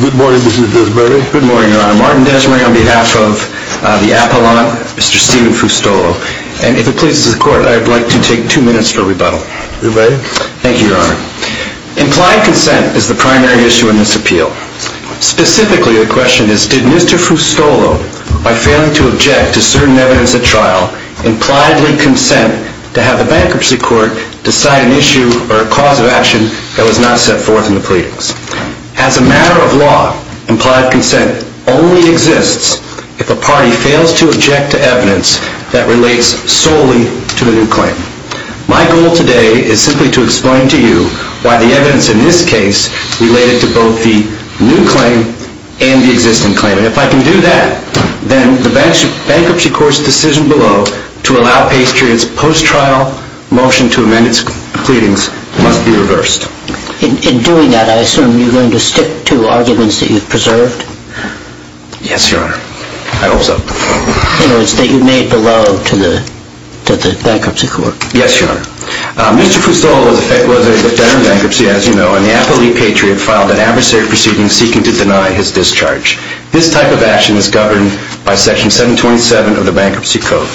Good morning, Mr. Desmarais. Implied consent is the primary issue in this appeal. Specifically, the question is, did Mr. Fustolo, by failing to object to certain evidence at trial, impliedly consent to have the Bankruptcy Court decide an issue or a cause of action that was not set forth in the pleadings. As a matter of law, implied consent only exists if a party fails to object to evidence that relates solely to the new claim. My goal today is simply to explain to you why the evidence in this case related to both the new claim and the existing claim. And if I can do that, then the Bankruptcy Court's decision below to allow Patriot's post-trial motion to amend its pleadings must be reversed. In doing that, I assume you're going to stick to arguments that you've preserved? Yes, Your Honor. I hope so. In other words, that you've made below to the Bankruptcy Court. Yes, Your Honor. Mr. Fustolo was a defender of bankruptcy, as you know, and the affiliate Patriot filed an adversary proceeding seeking to deny his discharge. This type of action is governed by Section 727 of the Bankruptcy Code.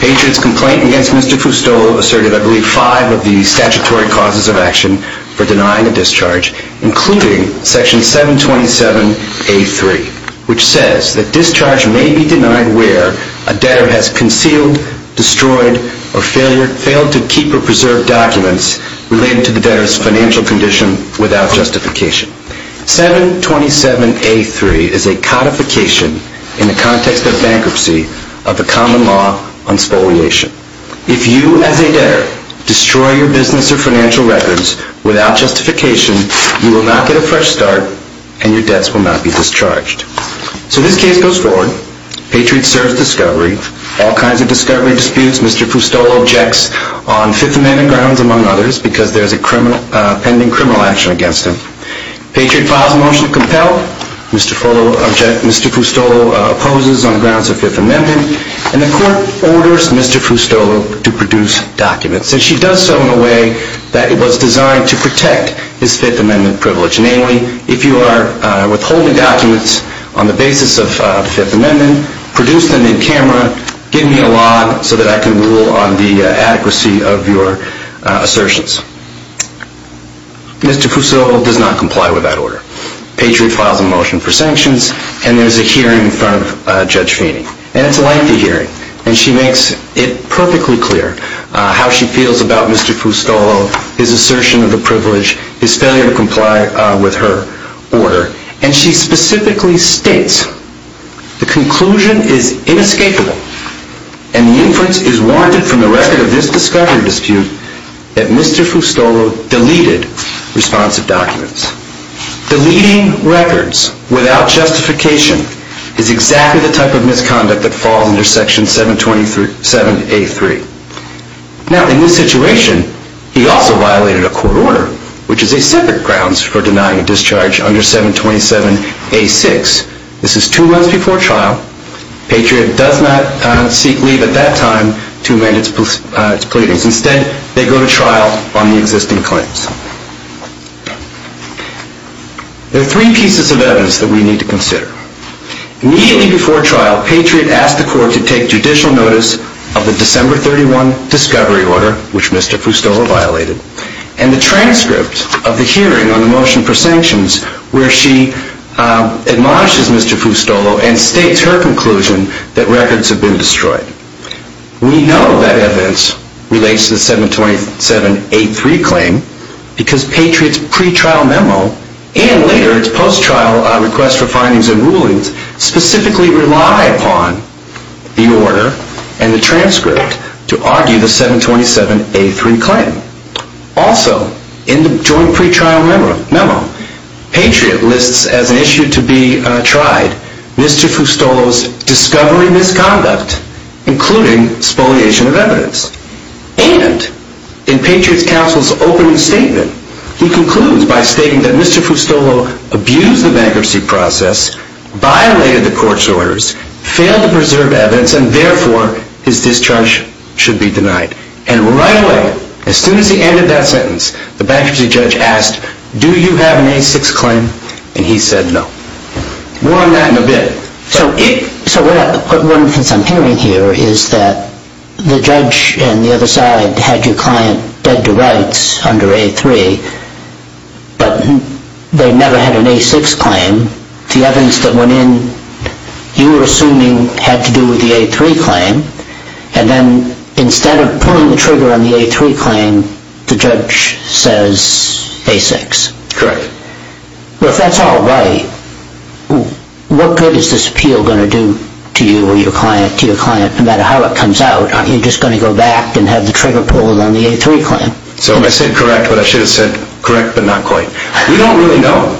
Patriot's complaint against Mr. Fustolo asserted, I believe, five of the statutory causes of action for denying a discharge, including Section 727A3, which says that discharge may be denied where a debtor has concealed, destroyed, or failed to keep or preserve documents related to the debtor's financial condition without justification. 727A3 is a codification in the context of bankruptcy of the common law on spoliation. If you, as a debtor, destroy your business or financial records without justification, you will not get a fresh start and your debts will not be discharged. So this case goes forward. Patriot serves discovery. All kinds of discovery disputes Mr. Fustolo objects on Fifth Amendment grounds, among others, because there's a pending criminal action against him. Patriot files a motion to compel. Mr. Fustolo opposes on grounds of Fifth Amendment, and the court orders Mr. Fustolo to produce documents. And she does so in a way that it was designed to protect his Fifth Amendment privilege. Namely, if you are withholding documents on the basis of the Fifth Amendment, produce them in camera, give me a log so that I can rule on the adequacy of your assertions. Mr. Fustolo does not comply with that order. Patriot files a motion for sanctions, and there's a hearing in front of Judge Feeney. And it's a lengthy hearing, and she makes it perfectly clear how she feels about Mr. Fustolo, his assertion of the privilege, his failure to comply with her order. And she specifically states, the conclusion is inescapable and the inference is warranted from the record of this discovery dispute that Mr. Fustolo deleted responsive documents. Deleting records without justification is exactly the type of misconduct that falls under Section 727A3. Now, in this situation, he also violated a court order, which is a separate grounds for denying a discharge under 727A6. This is two months before trial. Patriot does not seek leave at that time to amend its pleadings. Instead, they go to trial on the existing claims. There are three pieces of evidence that we need to consider. Immediately before trial, Patriot asked the court to take judicial notice of the December 31 discovery order, which Mr. Fustolo violated, and the transcript of the hearing on the motion for sanctions, where she admonishes Mr. Fustolo and states her conclusion that records have been destroyed. We know that evidence relates to the 727A3 claim because Patriot's pre-trial memo and later its post-trial request for findings and rulings specifically rely upon the order and the transcript to argue the 727A3 claim. Also, in the joint pre-trial memo, Patriot lists as an issue to be tried Mr. Fustolo's discovery misconduct, including spoliation of evidence. And, in Patriot's counsel's opening statement, he concludes by stating that Mr. Fustolo abused the bankruptcy process, violated the court's orders, failed to preserve evidence, and therefore his discharge should be denied. And right away, as soon as he ended that sentence, the bankruptcy judge asked, do you have an A6 claim? And he said no. More on that in a bit. So what I'm hearing here is that the judge and the other side had your client dead to rights under A3, but they never had an A6 claim. The evidence that went in, you were assuming had to do with the A3 claim. And instead of pulling the trigger on the A3 claim, the judge says A6. Correct. Well, if that's all right, what good is this appeal going to do to you or your client, to your client, no matter how it comes out? Aren't you just going to go back and have the trigger pulled on the A3 claim? So I said correct, but I should have said correct, but not quite. We don't really know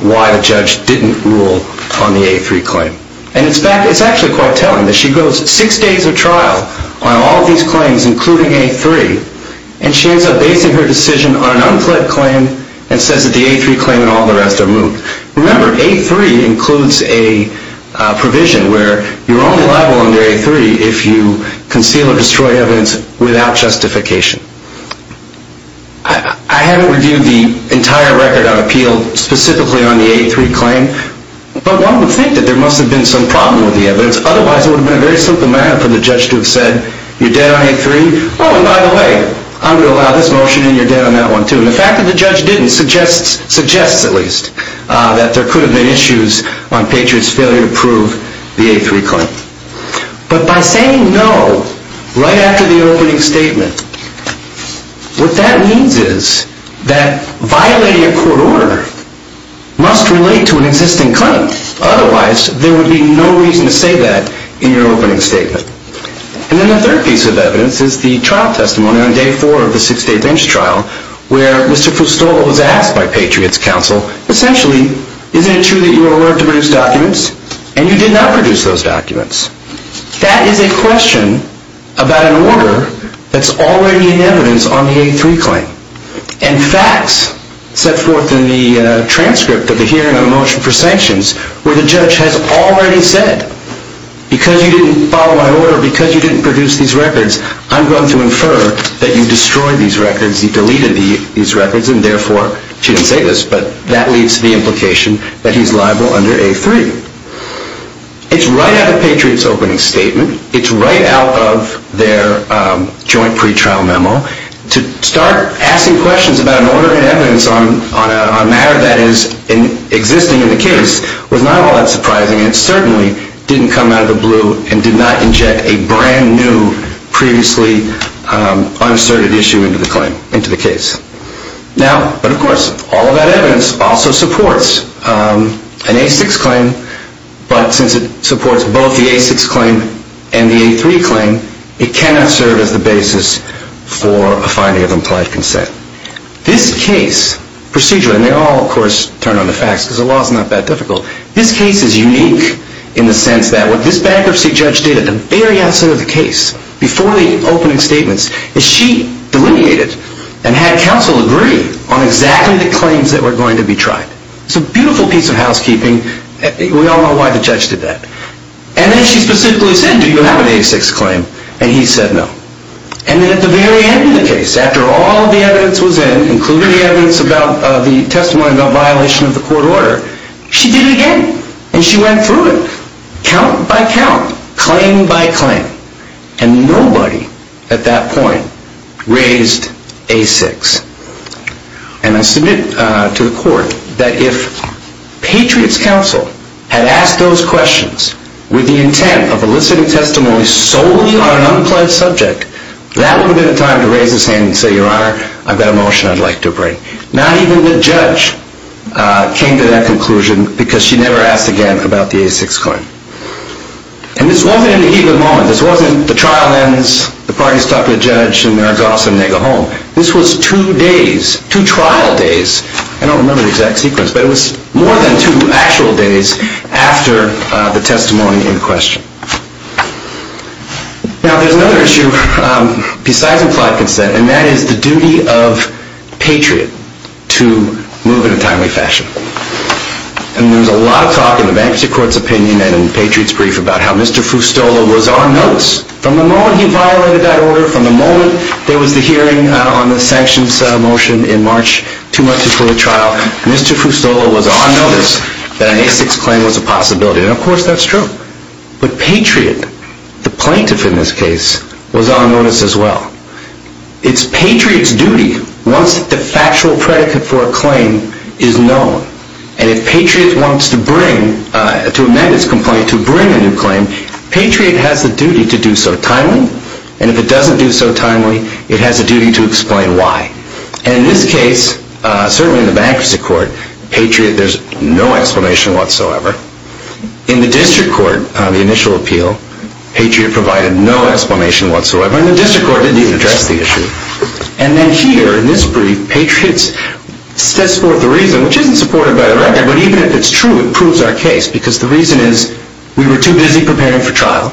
why the judge didn't rule on the A3 claim. And in fact, it's actually quite telling that she goes six days of trial on all of these claims, including A3, and she ends up basing her decision on an unflagged claim and says that the A3 claim and all the rest are moot. Remember, A3 includes a provision where you're only liable under A3 if you conceal or destroy evidence without justification. I haven't reviewed the entire record of appeal specifically on the A3 claim, but one would think that there must have been some problem with the evidence. Otherwise, it would have been a very simple matter for the judge to have said, you're dead on A3. Oh, and by the way, I'm going to allow this motion and you're dead on that one, too. And the fact that the judge didn't suggests, at least, that there could have been issues on Patriot's failure to prove the A3 claim. But by saying no right after the opening statement, what that means is that violating a court order must relate to an existing claim. Otherwise, there would be no reason to say that in your opening statement. And then the third piece of evidence is the trial testimony on day four of the six-day bench trial, where Mr. Fustolo was asked by Patriot's counsel, essentially, isn't it true that you were ordered to produce documents, and you did not produce those documents? That is a question about an order that's already in evidence on the A3 claim. And facts set forth in the transcript of the hearing on a motion for sanctions, where the judge has already said, because you didn't follow my order, because you didn't produce these records, I'm going to infer that you destroyed these records, you deleted these records, and therefore, she didn't say this, but that leads to the implication that he's liable under A3. It's right out of Patriot's opening statement, it's right out of their joint pretrial memo, to start asking questions about an order in evidence on a matter that is existing in the case was not all that surprising, and certainly didn't come out of the blue and did not inject a brand new, previously unasserted issue into the claim, into the case. Now, but of course, all of that evidence also supports an A6 claim, but since it supports both the A6 claim and the A3 claim, it cannot serve as the basis for a finding of implied consent. This case, procedurally, and they all, of course, turn on the facts, because the law is not that difficult, this case is unique in the sense that what this bankruptcy judge did at the very outset of the case, before the opening statements, is she delineated and had counsel agree on exactly the claims that were going to be tried. It's a beautiful piece of housekeeping, we all know why the judge did that. And then she specifically said, do you have an A6 claim? And he said no. And then at the very end of the case, after all of the evidence was in, including the evidence about the testimony about violation of the court order, she did it again, and she went through it, count by count, claim by claim. And nobody, at that point, raised A6. And I submit to the court that if Patriot's counsel had asked those questions, with the intent of eliciting testimony solely on an unpledged subject, that would have been the time to raise his hand and say, Your Honor, I've got a motion I'd like to bring. Not even the judge came to that conclusion, because she never asked again about the A6 claim. And this wasn't an even moment, this wasn't the trial ends, the parties talk to the judge, this was two days, two trial days, I don't remember the exact sequence, but it was more than two actual days after the testimony in question. Now, there's another issue besides implied consent, and that is the duty of Patriot to move in a timely fashion. And there's a lot of talk in the bankruptcy court's opinion and in Patriot's brief about how Mr. Fustola was on notes from the moment he violated that order, from the moment there was the hearing on the sanctions motion in March, two months before the trial, Mr. Fustola was on notice that an A6 claim was a possibility. And of course that's true. But Patriot, the plaintiff in this case, was on notice as well. It's Patriot's duty, once the factual predicate for a claim is known, and if Patriot wants to bring, to amend its complaint, to bring a new claim, Patriot has the duty to do so timely, and if it doesn't do so timely, it has a duty to explain why. And in this case, certainly in the bankruptcy court, Patriot, there's no explanation whatsoever. In the district court, on the initial appeal, Patriot provided no explanation whatsoever, and the district court didn't even address the issue. And then here, in this brief, Patriot sets forth the reason, which isn't supported by the record, but even if it's true, it proves our case, because the reason is, we were too busy preparing for trial,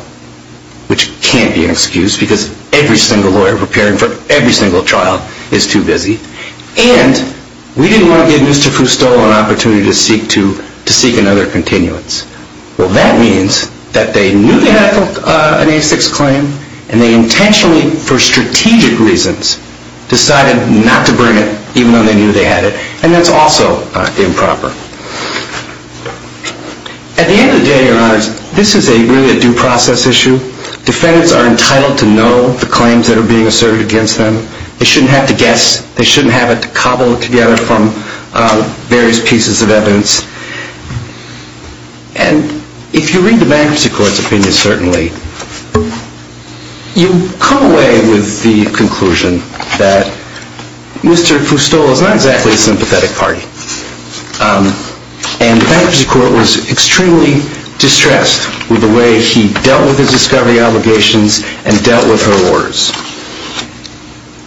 which can't be an excuse, because every single lawyer preparing for every single trial is too busy, and we didn't want to give Mr. Fustola an opportunity to seek another continuance. Well, that means that they knew they had an A6 claim, and they intentionally, for strategic reasons, decided not to bring it, even though they knew they had it, and that's also improper. At the end of the day, Your Honors, this is really a due process issue. Defendants are entitled to know the claims that are being asserted against them. They shouldn't have to guess. They shouldn't have to cobble it together from various pieces of evidence. And if you read the bankruptcy court's opinion, certainly, you come away with the conclusion that Mr. Fustola is not exactly a sympathetic party, and the bankruptcy court was extremely distressed with the way he dealt with his discovery obligations and dealt with her orders.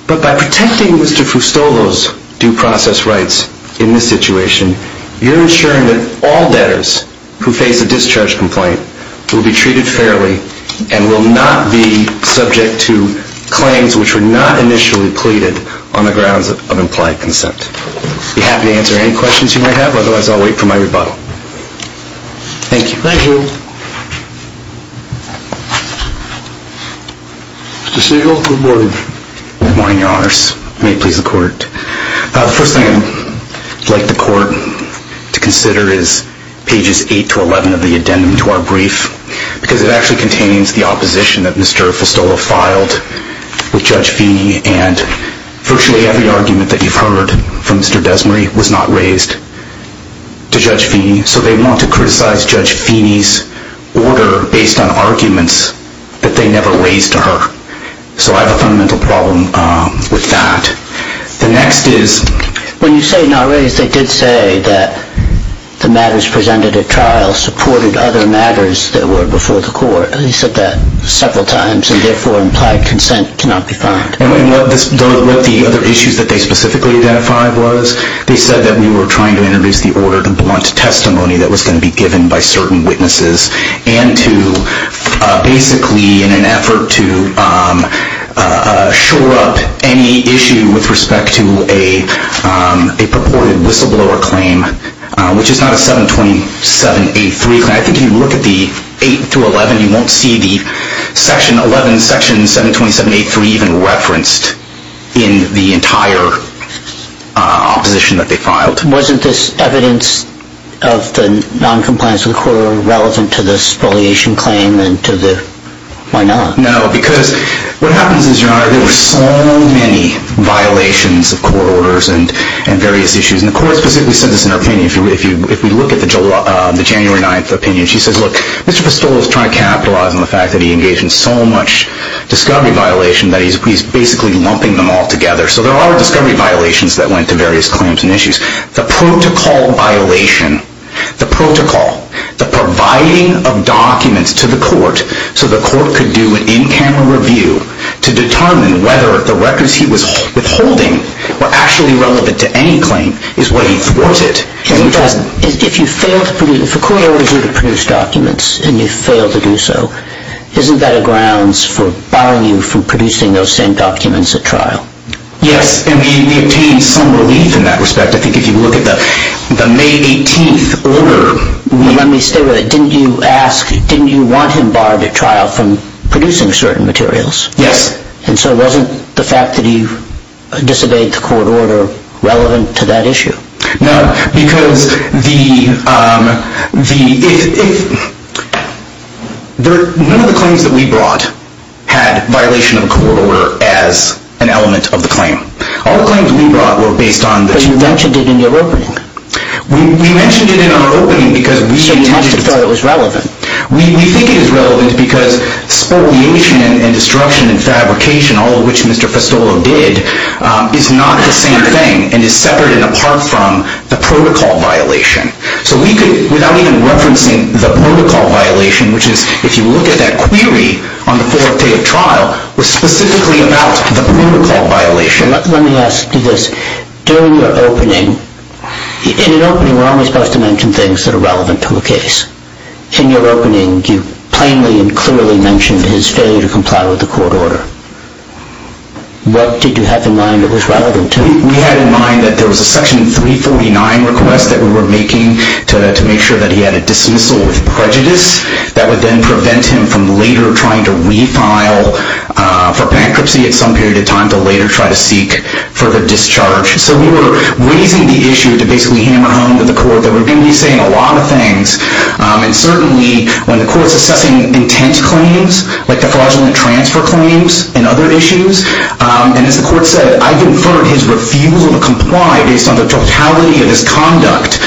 But by protecting Mr. Fustola's due process rights in this situation, you're ensuring that all debtors who face a discharge complaint will be treated fairly and will not be subject to claims which were not initially pleaded on the grounds of implied consent. I'd be happy to answer any questions you might have. Otherwise, I'll wait for my rebuttal. Thank you. Thank you. Mr. Siegel, good morning. Good morning, Your Honors. May it please the Court. The first thing I'd like the Court to consider is pages 8 to 11 of the addendum to our brief, because it actually contains the opposition that Mr. Fustola filed with Judge Feeney, and virtually every argument that you've heard from Mr. Desmarais was not raised to Judge Feeney. So they want to criticize Judge Feeney's order based on arguments that they never raised to her. So I have a fundamental problem with that. The next is? When you say not raised, they did say that the matters presented at trial supported other matters that were before the Court. He said that several times, and therefore implied consent cannot be found. And what the other issues that they specifically identified was? They said that we were trying to introduce the order to blunt testimony that was going to be given by certain witnesses and to basically, in an effort to shore up any issue with respect to a purported whistleblower claim, which is not a 72783 claim. I think if you look at the 8 through 11, you won't see the section 11, section 72783 even referenced in the entire opposition that they filed. But wasn't this evidence of the noncompliance of the court order relevant to this spoliation claim? Why not? No, because what happens is, Your Honor, there were so many violations of court orders and various issues. And the Court specifically said this in her opinion. If we look at the January 9th opinion, she says, look, Mr. Pistola is trying to capitalize on the fact that he engaged in so much discovery violation that he's basically lumping them all together. So there are discovery violations that went to various claims and issues. The protocol violation, the protocol, the providing of documents to the court so the court could do an in-camera review to determine whether the records he was withholding were actually relevant to any claim is what he thwarted. If a court orders you to produce documents and you fail to do so, isn't that a grounds for barring you from producing those same documents at trial? Yes, and we obtained some relief in that respect. I think if you look at the May 18th order. Let me stay with it. Didn't you ask, didn't you want him barred at trial from producing certain materials? Yes. And so wasn't the fact that he disobeyed the court order relevant to that issue? No, because none of the claims that we brought had violation of the court order as an element of the claim. All the claims we brought were based on the two- But you mentioned it in your opening. We mentioned it in our opening because we- So you didn't have to feel it was relevant. We think it is relevant because spoliation and destruction and fabrication, all of which Mr. Festolo did, is not the same thing and is separate and apart from the protocol violation. So we could, without even referencing the protocol violation, which is if you look at that query on the fourth day of trial, was specifically about the protocol violation. Let me ask you this. During your opening, in an opening we're only supposed to mention things that are relevant to a case. In your opening, you plainly and clearly mentioned his failure to comply with the court order. What did you have in mind that was relevant to it? We had in mind that there was a section 349 request that we were making to make sure that he had a dismissal with prejudice. That would then prevent him from later trying to refile for bankruptcy at some period of time to later try to seek further discharge. So we were raising the issue to basically hammer home to the court that we're going to be saying a lot of things. And certainly, when the court's assessing intent claims, like the fraudulent transfer claims and other issues, and as the court said, I've inferred his refusal to comply based on the totality of his conduct.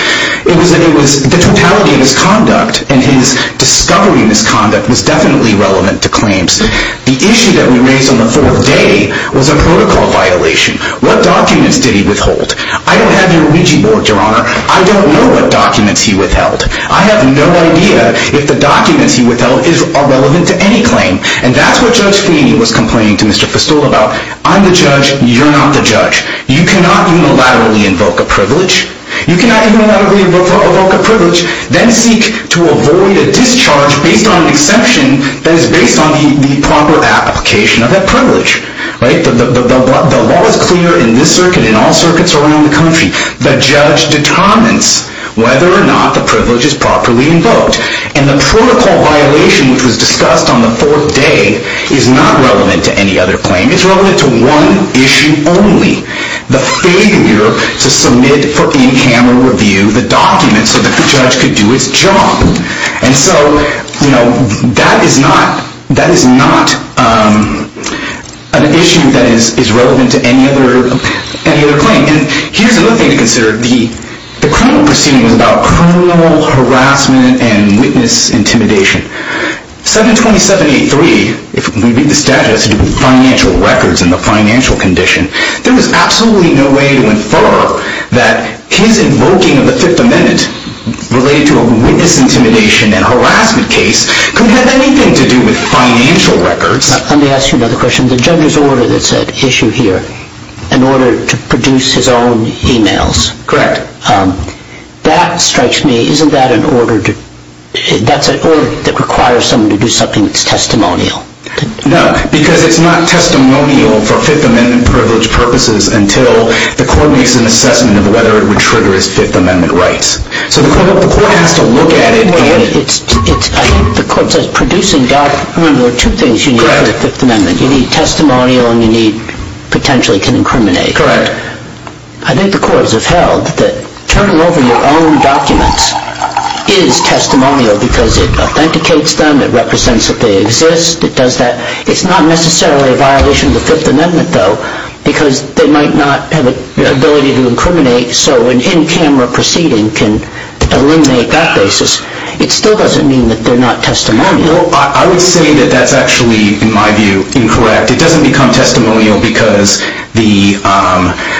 It was that the totality of his conduct and his discovery of his conduct was definitely relevant to claims. The issue that we raised on the fourth day was a protocol violation. What documents did he withhold? I don't have your Ouija board, Your Honor. I don't know what documents he withheld. I have no idea if the documents he withheld are relevant to any claim. And that's what Judge Feeney was complaining to Mr. Festool about. I'm the judge. You're not the judge. You cannot unilaterally invoke a privilege. You cannot unilaterally invoke a privilege, then seek to avoid a discharge based on an exception that is based on the proper application of that privilege. The law is clear in this circuit and all circuits around the country. The judge determines whether or not the privilege is properly invoked. And the protocol violation, which was discussed on the fourth day, is not relevant to any other claim. It's relevant to one issue only, the failure to submit for in-camera review the documents so that the judge could do its job. And so that is not an issue that is relevant to any other claim. And here's another thing to consider. The criminal proceeding was about criminal harassment and witness intimidation. 727.83, if we read the statute, has to do with financial records and the financial condition. There was absolutely no way to infer that his invoking of the Fifth Amendment related to a witness intimidation and harassment case could have anything to do with financial records. Let me ask you another question. The judge's order that's at issue here, in order to produce his own emails. Correct. That strikes me. Isn't that an order that requires someone to do something that's testimonial? No, because it's not testimonial for Fifth Amendment privilege purposes until the court makes an assessment of whether it would trigger his Fifth Amendment rights. So the court has to look at it and... The court says producing documents. There are two things you need for the Fifth Amendment. You need testimonial and you need potentially incriminating. Correct. I think the courts have held that turning over your own documents is testimonial because it authenticates them. It represents that they exist. It does that. It's not necessarily a violation of the Fifth Amendment, though, because they might not have the ability to incriminate. So an in-camera proceeding can eliminate that basis. It still doesn't mean that they're not testimonial. I would say that that's actually, in my view, incorrect. It doesn't become testimonial because the...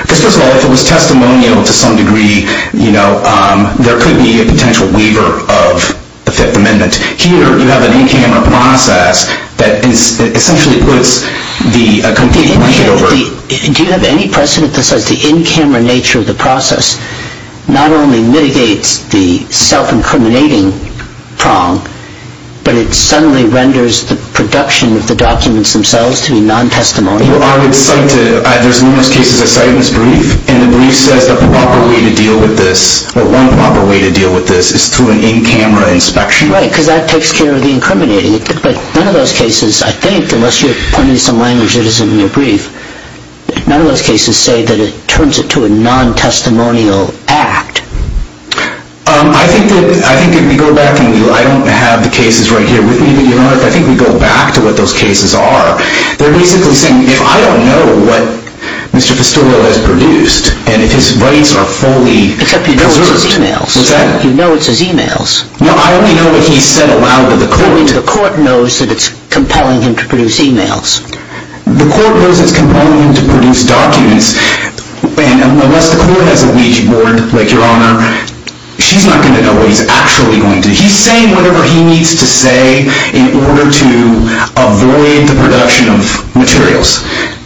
First of all, if it was testimonial to some degree, there could be a potential waiver of the Fifth Amendment. Here, you have an in-camera process that essentially puts the... Do you have any precedent that says the in-camera nature of the process not only mitigates the self-incriminating prong, but it suddenly renders the production of the documents themselves to be non-testimonial? Well, I would cite... There's numerous cases I cite in this brief, and the brief says that the proper way to deal with this, or one proper way to deal with this, is through an in-camera inspection. Right, because that takes care of the incriminating. But none of those cases, I think, unless you're pointing to some language that isn't in your brief, none of those cases say that it turns it to a non-testimonial act. I think that if we go back and... I don't have the cases right here with me, but you know what? If I think we go back to what those cases are, they're basically saying, if I don't know what Mr. Fistula has produced, and if his rights are fully preserved... Except you know it's his e-mails. Was that...? You know it's his e-mails. Well, I only know what he said aloud to the court. The court knows that it's compelling him to produce e-mails. The court knows it's compelling him to produce documents, and unless the court has a Ouija board, like Your Honor, she's not going to know what he's actually going to do. He's saying whatever he needs to say in order to avoid the production of materials,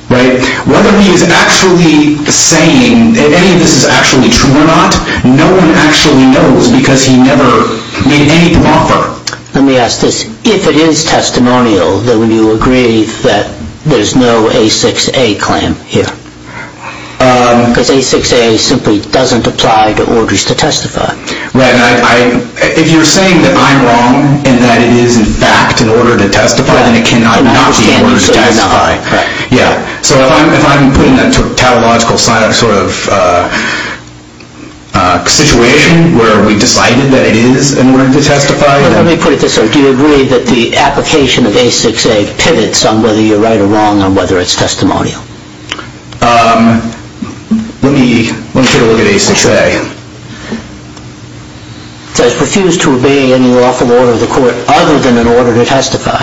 right? Whether he is actually saying any of this is actually true or not, no one actually knows because he never made any proffer. Let me ask this. If it is testimonial, then would you agree that there's no A6A claim here? Because A6A simply doesn't apply to orders to testify. Right. If you're saying that I'm wrong, and that it is in fact an order to testify, then it cannot not be an order to testify. Yeah. So if I'm putting a tautological sort of situation where we decided that it is an order to testify. Let me put it this way. Do you agree that the application of A6A pivots on whether you're right or wrong on whether it's testimonial? Let me take a look at A6A. It says refuse to obey any lawful order of the court other than an order to testify.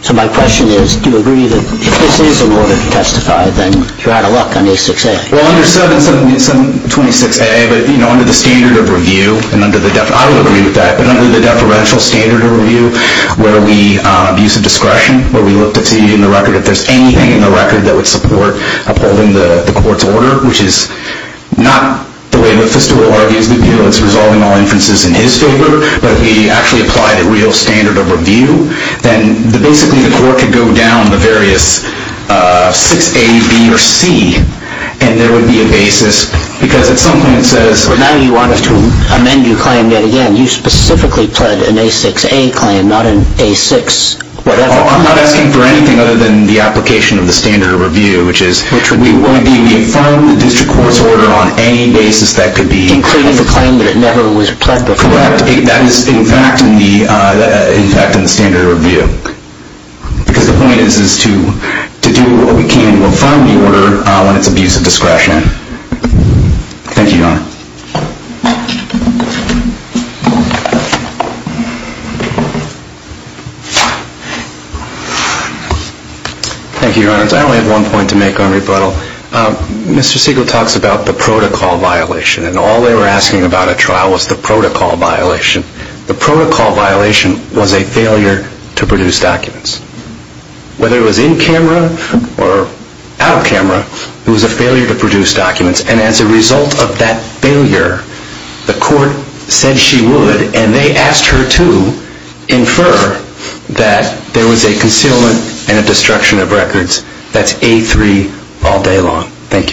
So my question is, do you agree that if this is an order to testify, then you're out of luck on A6A? Well, under 726A, under the standard of review, and I would agree with that, but under the deferential standard of review where we use a discretion, where we look to see in the record if there's anything in the record that would support upholding the court's order, which is not the way that Fistula argues the appeal. It's resolving all inferences in his favor. But if we actually apply the real standard of review, then basically the court could go down the various 6A, B, or C, and there would be a basis because at some point it says. But now you want us to amend your claim yet again. You specifically pled an A6A claim, not an A6 whatever. I'm not asking for anything other than the application of the standard of review, which is. Which would be what? It would be we affirm the district court's order on any basis that could be. Including the claim that it never was pled before. Correct. That is in fact in the standard of review. Because the point is to do what we can to affirm the order when it's abuse of discretion. Thank you, Your Honor. Thank you, Your Honor. I only have one point to make on rebuttal. Mr. Siegel talks about the protocol violation. And all they were asking about at trial was the protocol violation. The protocol violation was a failure to produce documents. Whether it was in camera or out of camera, it was a failure to produce documents. And as a result of that failure, the court said she would. And they asked her to infer that there was a concealment and a destruction of records. That's A3 all day long. Thank you.